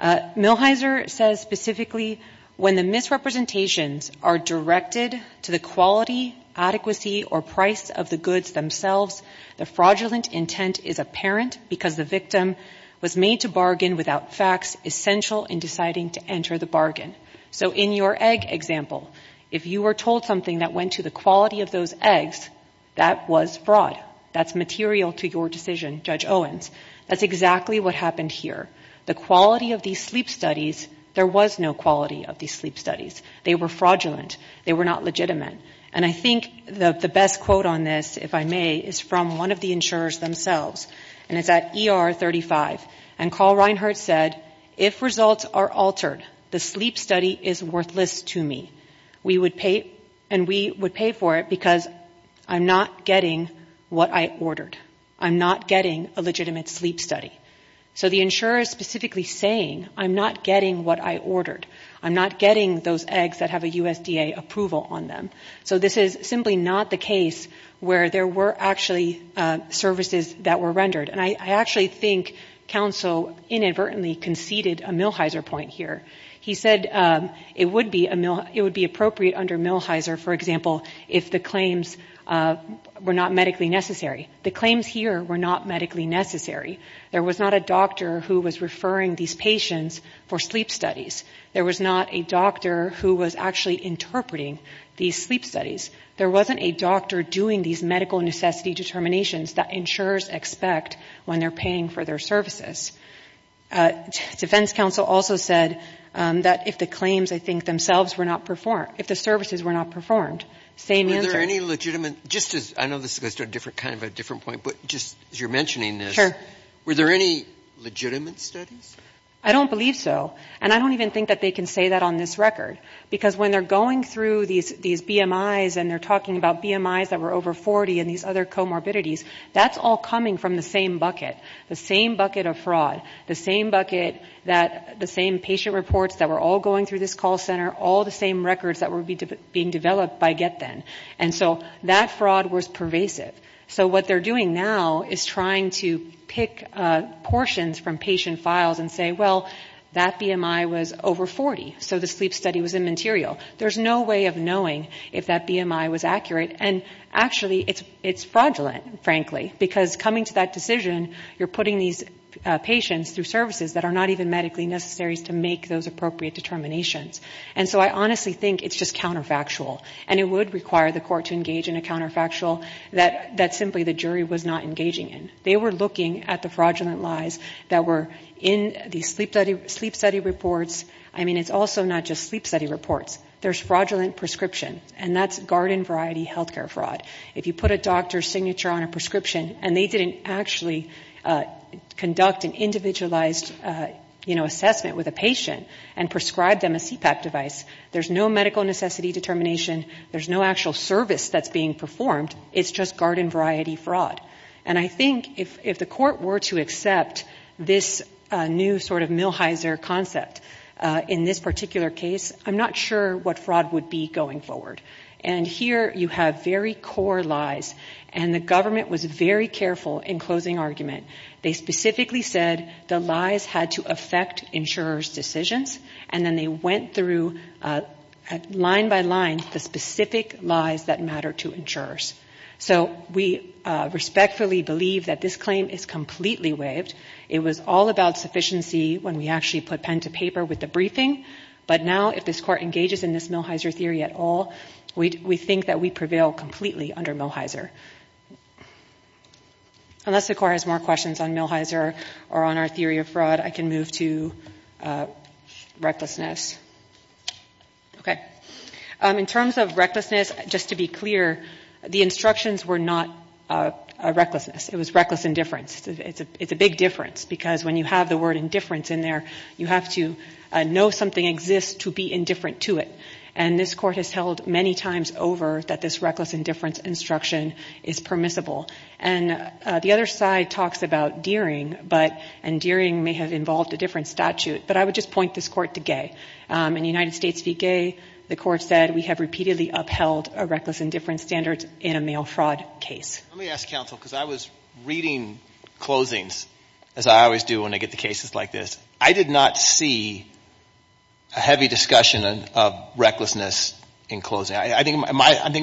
Millheiser says specifically, when the misrepresentations are directed to the quality, adequacy, or price of the goods themselves, the fraudulent intent is apparent because the victim was made to bargain without facts essential in deciding to enter the bargain. So in your egg example, if you were told something that went to the quality of those eggs, that was fraud, that's material to your decision, Judge Owens. That's exactly what happened here. The quality of these sleep studies, there was no quality of these sleep studies. They were fraudulent. They were not legitimate. And I think the best quote on this, if I may, is from one of the insurers themselves. And it's at ER 35. And Carl Reinhart said, if results are altered, the sleep study is worthless to me. We would pay, and we would pay for it because I'm not getting what I ordered. I'm not getting a legitimate sleep study. So the insurer is specifically saying, I'm not getting what I ordered. I'm not getting those eggs that have a USDA approval on them. So this is simply not the case where there were actually services that were rendered. And I actually think counsel inadvertently conceded a Milheiser point here. He said it would be appropriate under Milheiser, for example, if the claims were not medically necessary. The claims here were not medically necessary. There was not a doctor who was referring these patients for sleep studies. There was not a doctor who was actually interpreting these sleep studies. There wasn't a doctor doing these medical necessity determinations that insurers expect when they're paying for their services. Defense counsel also said that if the claims, I think, themselves were not performed, if the services were not performed, same answer. Were there any legitimate, just as, I know this goes to a different, kind of a different point, but just as you're mentioning this. Sure. Were there any legitimate studies? I don't believe so. And I don't even think that they can say that on this record. Because when they're going through these BMI's and they're talking about BMI's that were over 40 and these other comorbidities, that's all coming from the same bucket. The same bucket of fraud. The same bucket that, the same patient reports that were all going through this call center. All the same records that were being developed by GetThen. And so that fraud was pervasive. So what they're doing now is trying to pick portions from patient files and say, well, that BMI was over 40, so the sleep study was immaterial. There's no way of knowing if that BMI was accurate. And actually, it's fraudulent, frankly. Because coming to that decision, you're putting these patients through services that are not even medically necessary to make those appropriate determinations. And so I honestly think it's just counterfactual. And it would require the court to engage in a counterfactual that simply the jury was not engaging in. They were looking at the fraudulent lies that were in the sleep study reports. I mean, it's also not just sleep study reports. There's fraudulent prescription. And that's garden variety healthcare fraud. If you put a doctor's signature on a prescription and they didn't actually conduct an individualized, you know, assessment with a patient and prescribe them a CPAP device, there's no medical necessity determination and there's no actual service that's being performed. It's just garden variety fraud. And I think if the court were to accept this new sort of Millhiser concept in this particular case, I'm not sure what fraud would be going forward. And here you have very core lies. And the government was very careful in closing argument. They specifically said the lies had to affect insurer's decisions. And then they went through line by line the specific lies that matter to insurers. So we respectfully believe that this claim is completely waived. It was all about sufficiency when we actually put pen to paper with the briefing. But now if this court engages in this Millhiser theory at all, we think that we prevail completely under Millhiser. Unless the court has more questions on Millhiser or on our theory of fraud, I can move to recklessness. Okay. In terms of recklessness, just to be clear, the instructions were not a recklessness. It was reckless indifference. It's a big difference because when you have the word indifference in there, you have to know something exists to be indifferent to it. And this court has held many times over that this reckless indifference instruction is permissible. And the other side talks about deering, but and deering may have involved a different statute, but I would just point this court to Gaye. In United States v. Gaye, the court said we have repeatedly upheld a reckless indifference standards in a male fraud case. Let me ask counsel because I was reading closings as I always do when I get the cases like this. I did not see a heavy discussion of recklessness in closing. I think it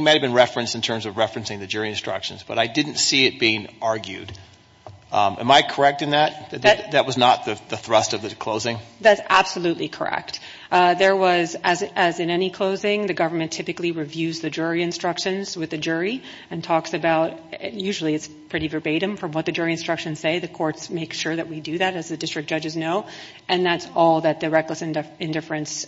might've been referenced in terms of referencing the jury instructions, but I didn't see it being argued. Am I correct in that? That was not the thrust of the closing? That's absolutely correct. There was, as in any closing, the government typically reviews the jury instructions with the jury and talks about, usually it's pretty verbatim from what the jury instructions say. The courts make sure that we do that as the district judges know. And that's all that the reckless indifference,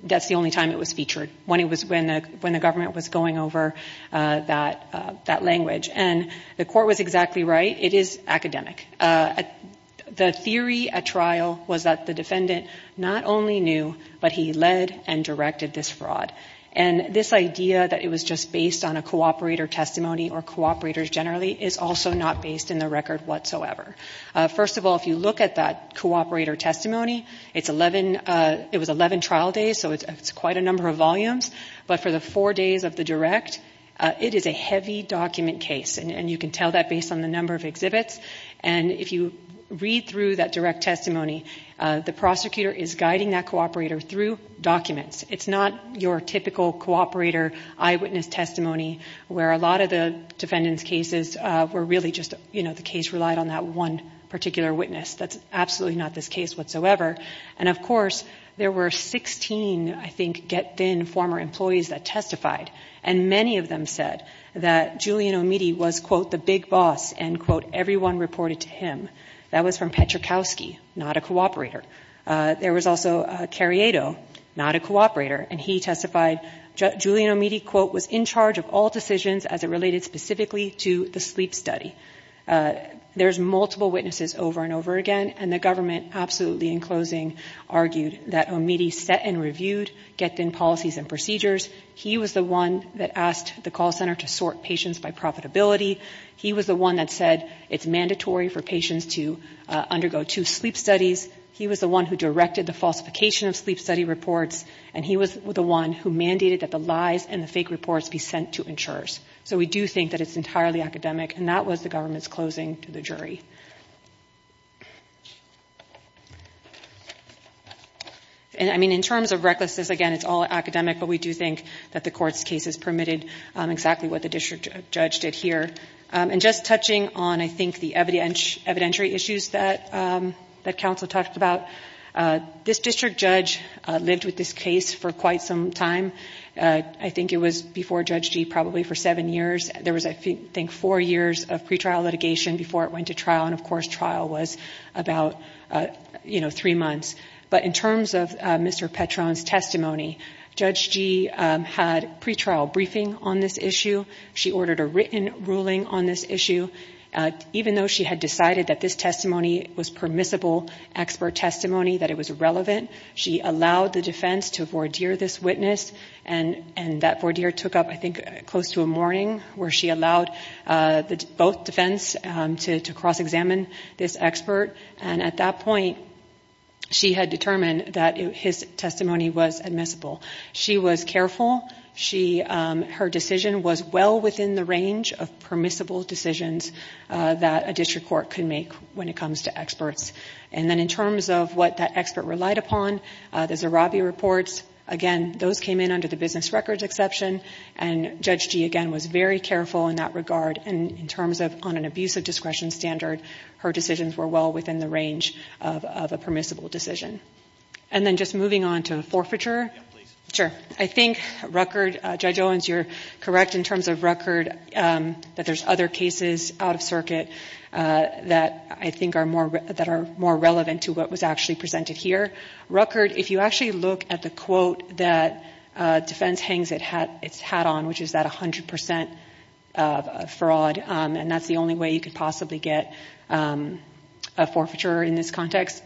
that's the only time it was featured. When it was, when the government was going over that language. And the court was exactly right. It is academic. The theory at trial was that the defendant not only knew, but he led and directed this fraud. And this idea that it was just based on a cooperator testimony or cooperators generally is also not based in the record whatsoever. First of all, if you look at that cooperator testimony, it's 11, it was 11 trial days. So it's quite a number of volumes, but for the four days of the direct, it is a heavy document case. And you can tell that based on the number of exhibits. And if you read through that direct testimony, the prosecutor is guiding that cooperator through documents. It's not your typical cooperator eyewitness testimony, where a lot of the defendant's cases were really just, you know, the case relied on that one particular witness. That's absolutely not this case whatsoever. And of course, there were 16, I think, get thin former employees that testified. And many of them said that Julian Omidy was quote, the big boss and quote, everyone reported to him. That was from Petrukowski, not a cooperator. There was also a Carriedo, not a cooperator. And he testified, Julian Omidy quote, was in charge of all decisions as it related specifically to the sleep study. There's multiple witnesses over and over again. And the government absolutely in closing argued that Omidy set and reviewed get thin policies and procedures. He was the one that asked the call center to sort patients by profitability. He was the one that said it's mandatory for patients to undergo two sleep studies. He was the one who directed the falsification of sleep study reports. And he was the one who mandated that the lies and the fake reports be sent to insurers. So we do think that it's entirely academic. And that was the government's closing to the jury. And I mean, in terms of recklessness, again, it's all academic, but we do think that the court's cases permitted exactly what the district judge did here. And just touching on, I think the evident evidentiary issues that, that council talked about this district judge lived with this case for quite some time. I think it was before judge G probably for seven years, there was, I think four years of pretrial litigation before it went to trial. And of course trial was about, uh, you know, three months, but in terms of Mr. Petron's testimony, judge G had pretrial briefing on this issue. She ordered a written ruling on this issue. Uh, even though she had decided that this testimony was permissible expert testimony, that it was irrelevant. She allowed the defense to voir dire this witness and, and that voir dire took up, I think close to a morning where she allowed, uh, both defense, um, to, to cross-examine this expert. And at that point she had determined that his testimony was admissible. She was careful. She, um, her decision was well within the range of permissible decisions, uh, that a district court can make when it comes to experts. And then in terms of what that expert relied upon, uh, the Zarabi reports, again, those came in under the business records exception. And judge G again, was very careful in that regard. And in terms of on an abuse of discretion standard, her decisions were well within the range of a permissible decision. And then just moving on to the forfeiture. Sure. I think record, uh, judge Owens, you're correct in terms of record, um, that there's other cases out of circuit, uh, that I think are more, that are more relevant to what was actually presented here record. If you actually look at the quote that, uh, defense hangs, it had its hat on, which is that a hundred percent of fraud. Um, and that's the only way you could possibly get, um, a forfeiture in this context.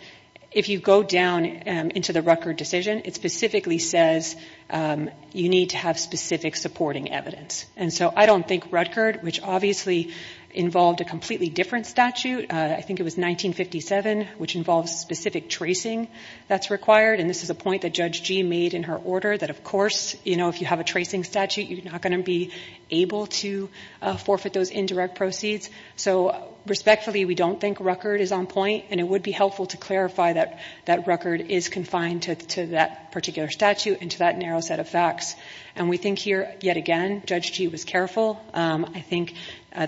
If you go down, um, into the record decision, it specifically says, um, you need to have specific supporting evidence. And so I don't think record, which obviously involved a completely different statute. Uh, I think it was 1957, which involves specific tracing that's required. And this is a point that judge G made in her order that of course, you know, if you have a tracing statute, you're not going to be able to forfeit those indirect proceeds. So respectfully, we don't think record is on point and it would be helpful to clarify that that record is confined to that particular statute and to that narrow set of facts. And we think here yet again, judge G was careful. Um, I think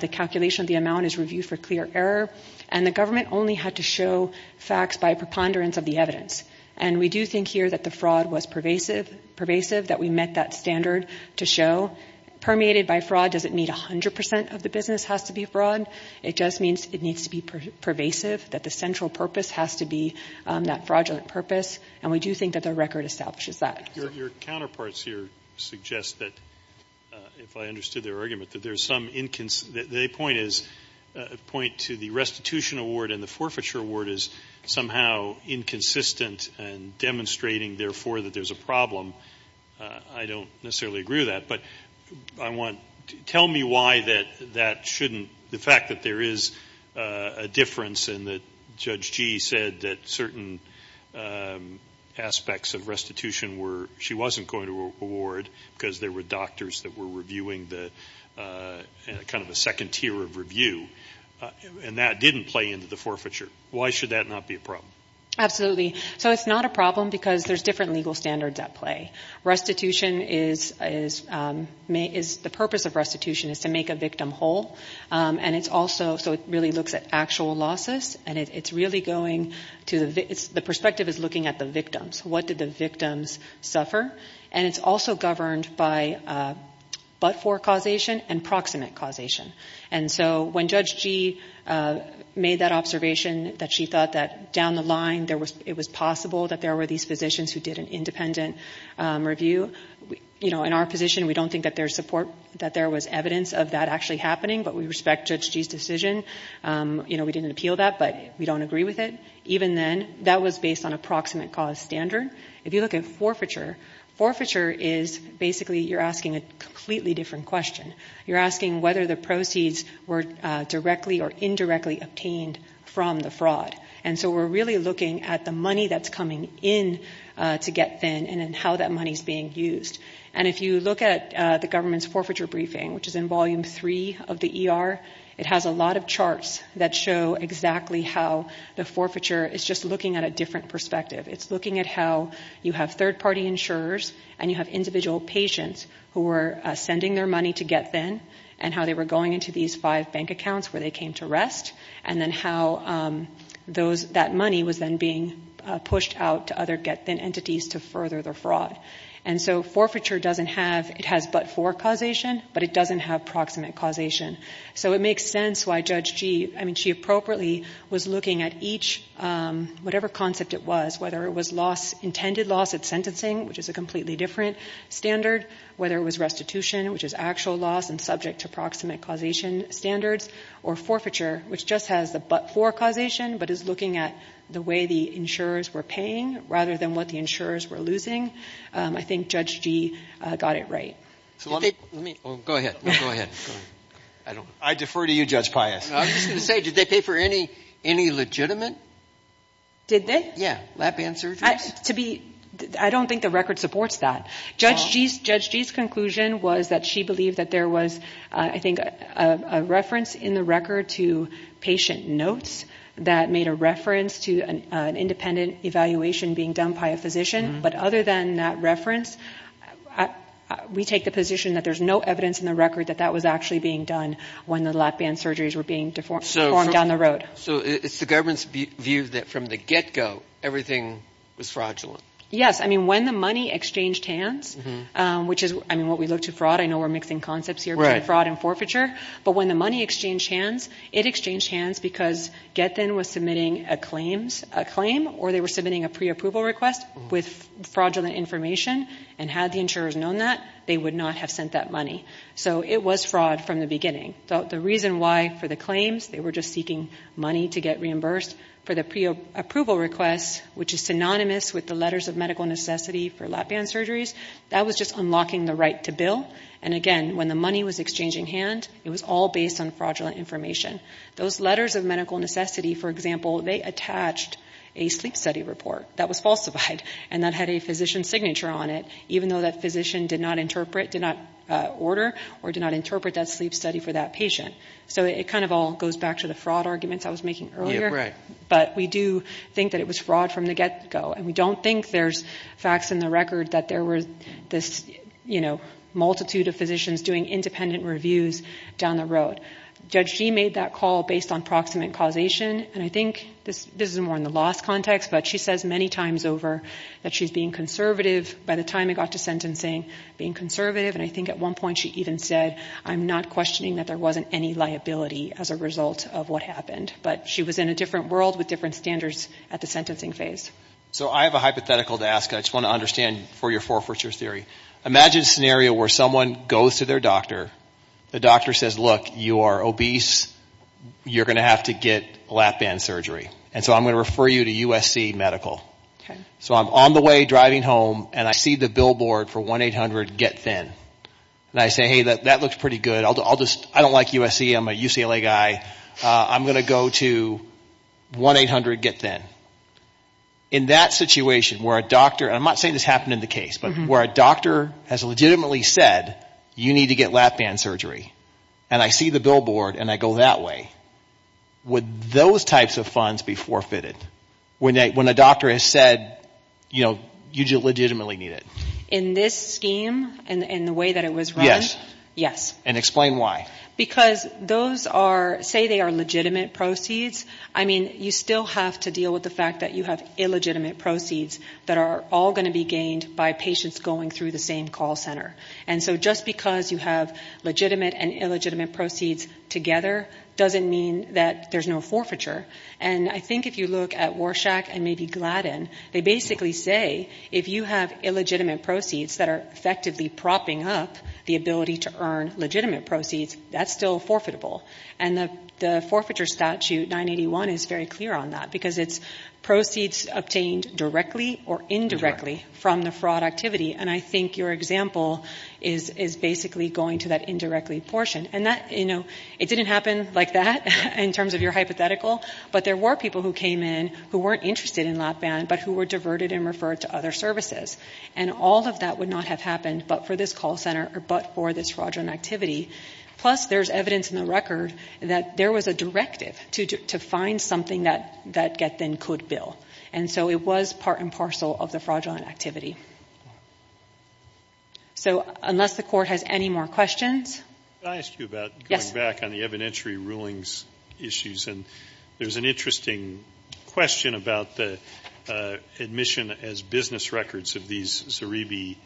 the calculation of the amount is reviewed for clear error and the government only had to show facts by preponderance of the evidence. And we do think here that the fraud was pervasive, pervasive, that we met that standard to show permeated by fraud doesn't meet a hundred percent of the business has to be fraud. It just means it needs to be pervasive that the central purpose has to be, um, that fraudulent purpose. And we do think that the record establishes that. Your counterparts here suggest that, uh, if I understood their argument, that there's some inconsistency. The point is a point to the restitution award and the forfeiture award is somehow inconsistent and demonstrating therefore that there's a problem. Uh, I don't necessarily agree with that, but I want to tell me why that, that shouldn't the fact that there is a difference in the judge G said that certain, um, aspects of restitution were she wasn't going to award because there were doctors that were reviewing the, uh, kind of a second tier of review. And that didn't play into the forfeiture. Why should that not be a problem? Absolutely. So it's not a problem because there's different legal standards at play. Restitution is, is, um, may, is the purpose of restitution is to make a victim whole. Um, and it's also, so it really looks at actual losses and it's really going to the V it's the perspective is looking at the victims. What did the victims suffer? And it's also governed by, uh, but for causation and proximate causation. And so when judge G, uh, made that observation that she thought that down the line there was, it was possible that there were these physicians who did an independent, um, review, you know, in our position, we don't think that there's support that there was evidence of that actually happening, but we respect judge G's decision. Um, you know, we didn't appeal that, but we don't agree with it. Even then that was based on approximate cause standard. If you look at forfeiture, forfeiture is basically, you're asking a completely different question. You're asking whether the proceeds were directly or indirectly obtained from the fraud. And so we're really looking at the money that's coming in, uh, to get thin and then how that money's being used. And if you look at the government's forfeiture briefing, which is in volume three of the ER, it has a lot of charts that show exactly how the forfeiture is just looking at a different perspective. It's looking at how you have third party insurers and you have individual patients who were sending their money to get thin and how they were going into these five bank accounts where they came to rest. And then how, um, those that money was then being pushed out to other get thin entities to further the fraud. And so forfeiture doesn't have, it has but for causation, but it doesn't have proximate causation. So it makes sense why judge G, I mean, she appropriately was looking at each, um, whatever concept it was, whether it was loss, intended loss at sentencing, which is a completely different standard, whether it was restitution, which is actual loss and subject to proximate causation standards or forfeiture, which just has the but for causation, but is looking at the way the insurers were paying rather than what the insurers were losing. Um, I think judge G, uh, got it right. So let me, let me go ahead. Let's go ahead. I don't, I defer to you, judge Pius. I'm just going to say, did they pay for any, any legitimate? Did they? Yeah. Lap band surgeries. To be, I don't think the record supports that. Judge G's, judge G's conclusion was that she believed that there was, uh, I think, uh, a reference in the record to patient notes that made a reference to an, uh, an independent evaluation being done by a physician. But other than that reference, we take the position that there's no evidence in the record that that was actually being done when the lap band surgeries were being deformed down the road. So it's the government's view that from the get go, everything was fraudulent. Yes. I mean, when the money exchanged hands, um, which is, I mean, what we look to fraud, I know we're mixing concepts here, right? Fraud and forfeiture. But when the money exchanged hands, it exchanged hands because get then was submitting a claims, a claim or they were submitting a pre-approval request with fraudulent information and had the insurers known that they would not have sent that money. So it was fraud from the beginning. So the reason why for the claims, they were just seeking money to get reimbursed for the pre-approval requests, which is synonymous with the letters of medical necessity for lap band surgeries that was just unlocking the right to bill. And again, when the money was exchanging hand, it was all based on fraudulent information. Those letters of medical necessity, for example, they attached a sleep study report that was falsified and that had a physician signature on it, even though that physician did not interpret, did not order or did not interpret that sleep study for that patient. So it kind of all goes back to the fraud arguments I was making earlier, but we do think that it was fraud from the get go. And we don't think there's facts in the record that there were this, you know, group of physicians doing independent reviews down the road. Judge G made that call based on proximate causation. And I think this is more in the loss context, but she says many times over that she's being conservative. By the time it got to sentencing, being conservative. And I think at one point she even said, I'm not questioning that there wasn't any liability as a result of what happened, but she was in a different world with different standards at the sentencing phase. So I have a hypothetical to ask. I just want to understand for your forfeiture theory, imagine a scenario where someone goes to their doctor, the doctor says, look, you are obese. You're going to have to get lap band surgery. And so I'm going to refer you to USC medical. So I'm on the way driving home and I see the billboard for 1-800-GET-THIN. And I say, Hey, that, that looks pretty good. I'll do, I'll just, I don't like USC. I'm a UCLA guy. I'm going to go to 1-800-GET-THIN. In that situation where a doctor, and I'm not saying this happened in the case, but where a doctor has legitimately said you need to get lap band surgery. And I see the billboard and I go that way. Would those types of funds be forfeited when they, when a doctor has said, you know, you legitimately need it. In this scheme and the way that it was run. Yes. Yes. And explain why. Because those are say they are legitimate proceeds. I mean, you still have to deal with the fact that you have illegitimate proceeds that are all going to be gained by patients going through the same call center. And so just because you have legitimate and illegitimate proceeds together, doesn't mean that there's no forfeiture. And I think if you look at Warshak and maybe Gladden, they basically say if you have illegitimate proceeds that are effectively propping up the ability to earn legitimate proceeds, that's still forfeitable. And the forfeiture statute 981 is very clear on that because it's proceeds obtained directly or indirectly from the fraud activity. And I think your example is, is basically going to that indirectly portion and that, you know, it didn't happen like that in terms of your hypothetical, but there were people who came in who weren't interested in lap band, but who were diverted and referred to other services. And all of that would not have happened but for this call center or, but for this fraudulent activity. Plus there's evidence in the record that there was a directive to do to find something that, that get then could bill. And so it was part and parcel of the fraudulent activity. So unless the court has any more questions, I asked you about going back on the evidentiary rulings issues. And there's an interesting question about the admission as business records of these Zeribi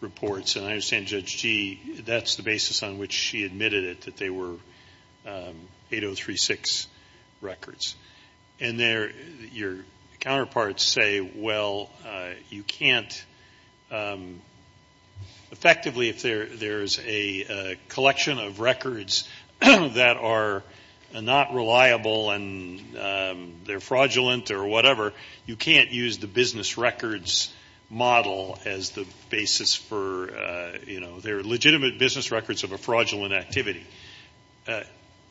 reports. And I understand judge G that's the basis on which she admitted it, that they were 8036 records. And there your counterparts say, well you can't effectively if there, there's a collection of records that are not reliable and they're fraudulent or whatever, you can't use the business records model as the basis for you know, they're legitimate business records of a fraudulent activity.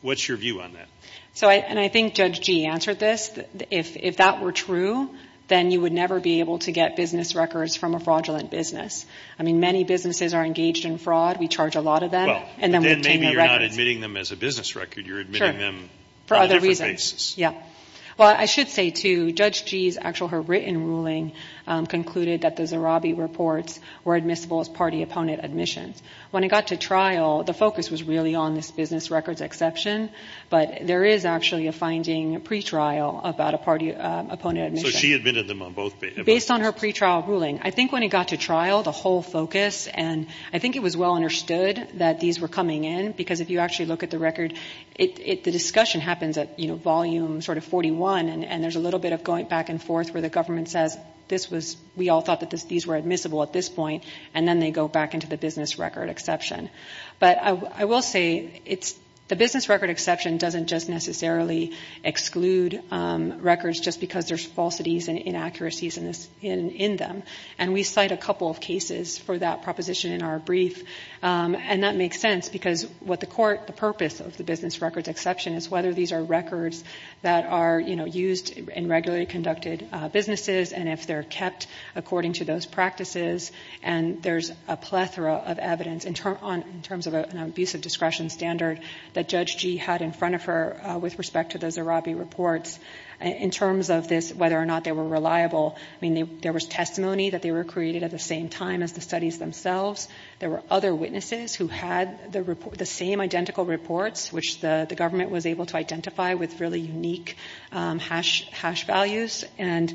What's your view on that? So I, and I think judge G answered this. If, if that were true, then you would never be able to get business records from a fraudulent business. I mean, many businesses are engaged in fraud. We charge a lot of them and then maybe you're not admitting them as a business record. You're admitting them for other reasons. Yeah. Well, I should say to judge G's actual, her written ruling concluded that the Zeribi reports were admissible as party opponent admissions. When it got to trial, the focus was really on this business records exception, but there is actually a finding pretrial about a party opponent. So she admitted them on both based on her pretrial ruling. I think when it got to trial, the whole focus and I think it was well understood that these were coming in because if you actually look at the record, it, it, the discussion happens at, you know, volume sort of 41 and there's a little bit of going back and forth where the government says this was, we all thought that these were admissible at this point and then they go back into the business record exception. But I will say it's, the business record exception doesn't just necessarily exclude records just because there's falsities and inaccuracies in this, in, in them. And we cite a couple of cases for that proposition in our brief. And that makes sense because what the court, the purpose of the business records exception is whether these are records that are, you know, used in regularly conducted businesses. And if they're kept according to those practices and there's a plethora of evidence in terms of an abusive discretion standard that judge G had in front of her with respect to the Zerabi reports in terms of this, whether or not they were reliable. I mean, there was testimony that they were created at the same time as the studies themselves. There were other witnesses who had the report, the same identical reports, which the government was able to identify with really unique hash values. And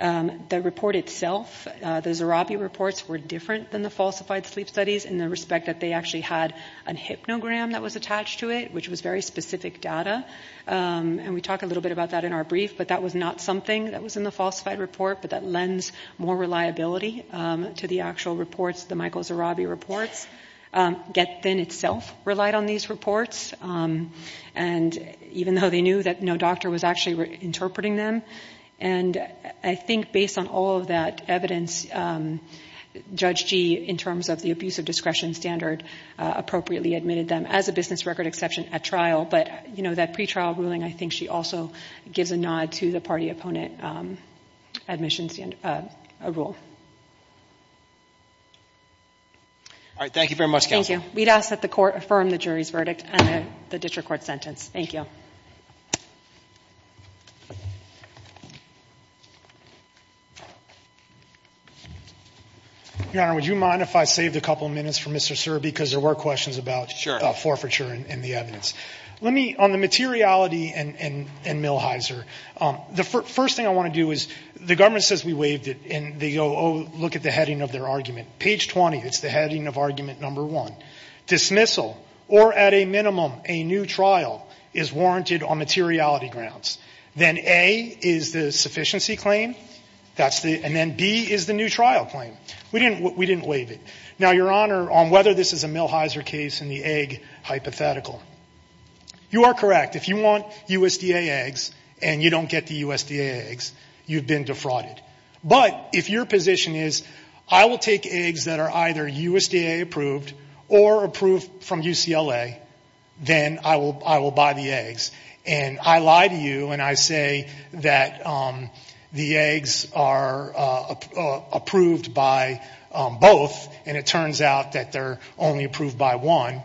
the report itself, the Zerabi reports were different than the falsified sleep studies in the respect that they actually had an hypnogram that was attached to it, which was very specific data. And we talk a little bit about that in our brief, but that was not something that was in the falsified report, but that lends more reliability to the actual reports. The Michael Zerabi reports get then itself relied on these reports. And even though they knew that no doctor was actually interpreting them. And I think based on all of that evidence judge G in terms of the abusive discretion standard appropriately admitted them as a business record exception at trial. But you know, that pretrial ruling, I think she also gives a nod to the party opponent admissions rule. All right. Thank you very much. Thank you. We'd ask that the court affirm the jury's verdict and the district court sentence. Thank you. Your Honor, would you mind if I saved a couple of minutes for Mr. Zerabi? Cause there were questions about forfeiture and the evidence. Let me on the materiality and, and, and Millheiser. Um, the first thing I want to do is the government says we waived it and they go, Oh, look at the heading of their argument page 20. It's the heading of argument. Number one dismissal or at a minimum, a new trial is warranted on materiality grounds. Then a is the sufficiency claim. That's the, and then B is the new trial claim. We didn't, we didn't waive it. Now, your Honor, on whether this is a Millheiser case and the egg hypothetical, you are correct. If you want USDA eggs and you don't get the USDA eggs, you've been defrauded. But if your position is I will take eggs that are either USDA approved or approved from UCLA, then I will, I will buy the eggs and I lie to you. And I say that, um, the eggs are, uh, uh, approved by, um, both and it turns out that they're only approved by one.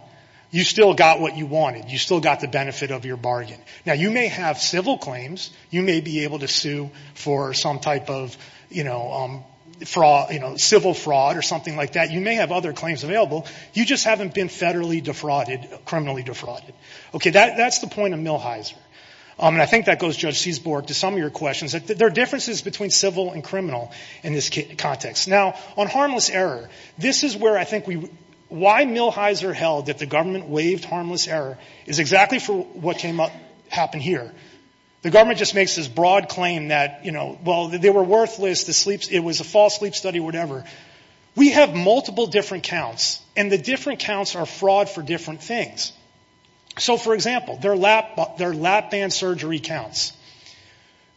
You still got what you wanted. You still got the benefit of your bargain. Now you may have civil claims. You may be able to sue for some type of, you know, um, for all, you know, civil fraud or something like that. You may have other claims available. You just haven't been federally defrauded, criminally defrauded. Okay. That that's the point of Millheiser. Um, and I think that goes judge Seesborg to some of your questions that there are differences between civil and criminal in this context. Now on harmless error, this is where I think we, why Millheiser held that the government waived harmless error is exactly for what came up happened here. The government just makes this broad claim that, you know, well, they were worthless. The sleeps, it was a false sleep study, whatever. We have multiple different counts and the different counts are fraud for different things. So for example, their lap, their lap band surgery counts.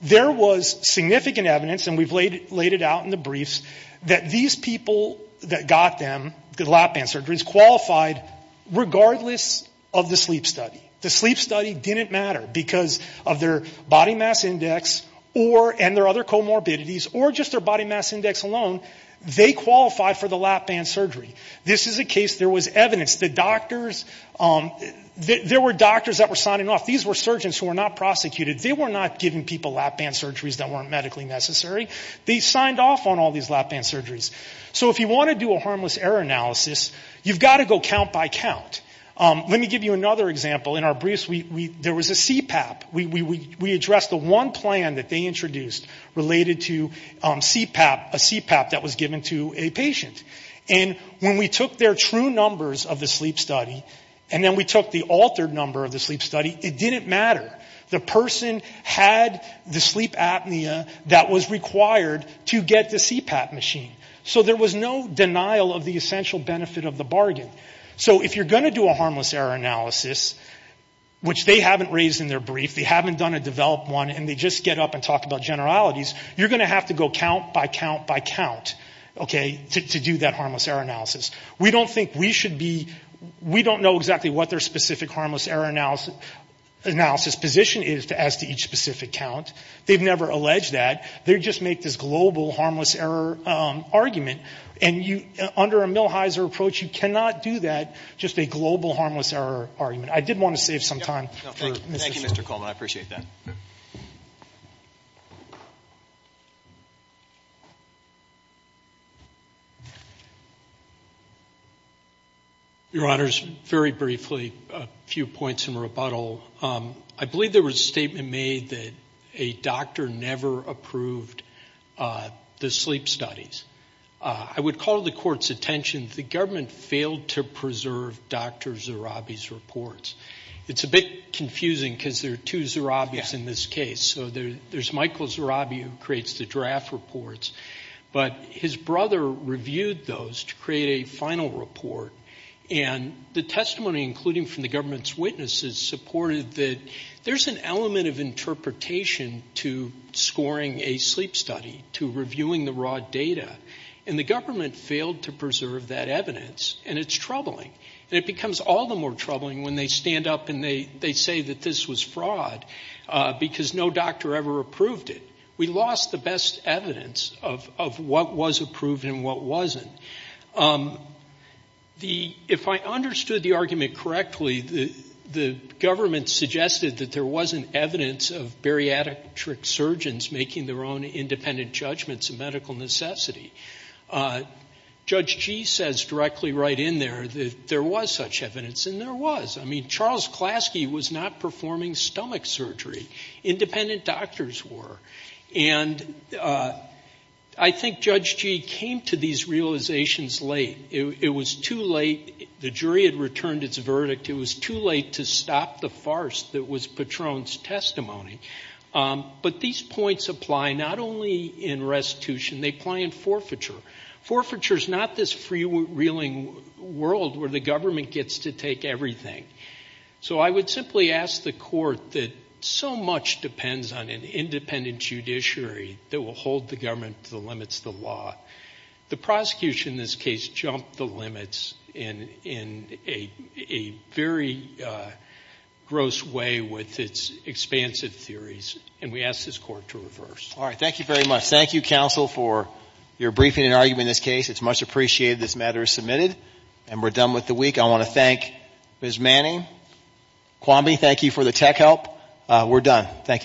There was significant evidence and we've laid, laid it out in the briefs that these people that got them good lap band surgeries qualified regardless of the sleep study. The sleep study didn't matter because of their body mass index or, and their other comorbidities or just their body mass index alone. They qualify for the lap band surgery. This is a case. There was evidence that doctors, there were doctors that were signing off. These were surgeons who were not prosecuted. They were not giving people lap band surgeries that weren't medically necessary. They signed off on all these lap band surgeries. So if you want to do a harmless error analysis, you've got to go count by count. Let me give you another example. In our briefs, we, we, there was a CPAP. We, we, we, we addressed the one plan that they introduced related to CPAP, a CPAP that was given to a patient. And when we took their true numbers of the sleep study, and then we took the altered number of the sleep study, it didn't matter. The person had the sleep apnea that was required to get the CPAP machine. So there was no denial of the essential benefit of the bargain. So if you're going to do a harmless error analysis, which they haven't raised in their brief, they haven't done a developed one and they just get up and talk about generalities, you're going to have to go count by count by count. Okay. To, to do that harmless error analysis. We don't think we should be, we don't know exactly what their specific harmless error analysis, analysis position is as to each specific count. They've never alleged that. They just make this global harmless error argument. And you under a Millheiser approach, you cannot do that just a global harmless error argument. I did want to save some time. Thank you, Mr. Coleman. I appreciate that. Your honors, very briefly, a few points in rebuttal. I believe there was a statement made that a doctor never approved the sleep studies. I would call the court's attention. The government failed to preserve Dr. Zerabi's reports. It's a bit confusing because there are two Zerabis in this case. So there there's Michael Zerabi who creates the draft reports, but his brother reviewed those to create a final report. And the testimony, including from the government's witnesses supported that there's an element of interpretation to scoring a sleep study, to reviewing the raw data and the government failed to preserve that evidence. And it's troubling and it becomes all the more troubling when they stand up and they, they say that this was fraud because no doctor ever approved it. We lost the best evidence of, of what was approved and what wasn't. The, if I understood the argument correctly, the government suggested that there wasn't evidence of bariatric surgeons making their own independent judgments and medical necessity. Judge G says directly right in there that there was such evidence and there was, I mean, Charles Klasky was not performing stomach surgery. Independent doctors were. And I think Judge G came to these realizations late. It was too late. The jury had returned its verdict. It was too late to stop the farce that was Patron's testimony. But these points apply not only in restitution, they apply in forfeiture. Forfeiture is not this freewheeling world where the government gets to take everything. So I would simply ask the court that so much depends on an independent judiciary that will hold the government to the limits of the law. The prosecution in this case jumped the limits in, in a, a very gross way with its expansive theories. And we asked this court to reverse. All right. Thank you very much. Thank you counsel for your briefing and argument in this case. It's much appreciated this matter is submitted and we're done with the week. I want to thank Ms. Manning. Kwame, thank you for the tech help. We're done. Thank you.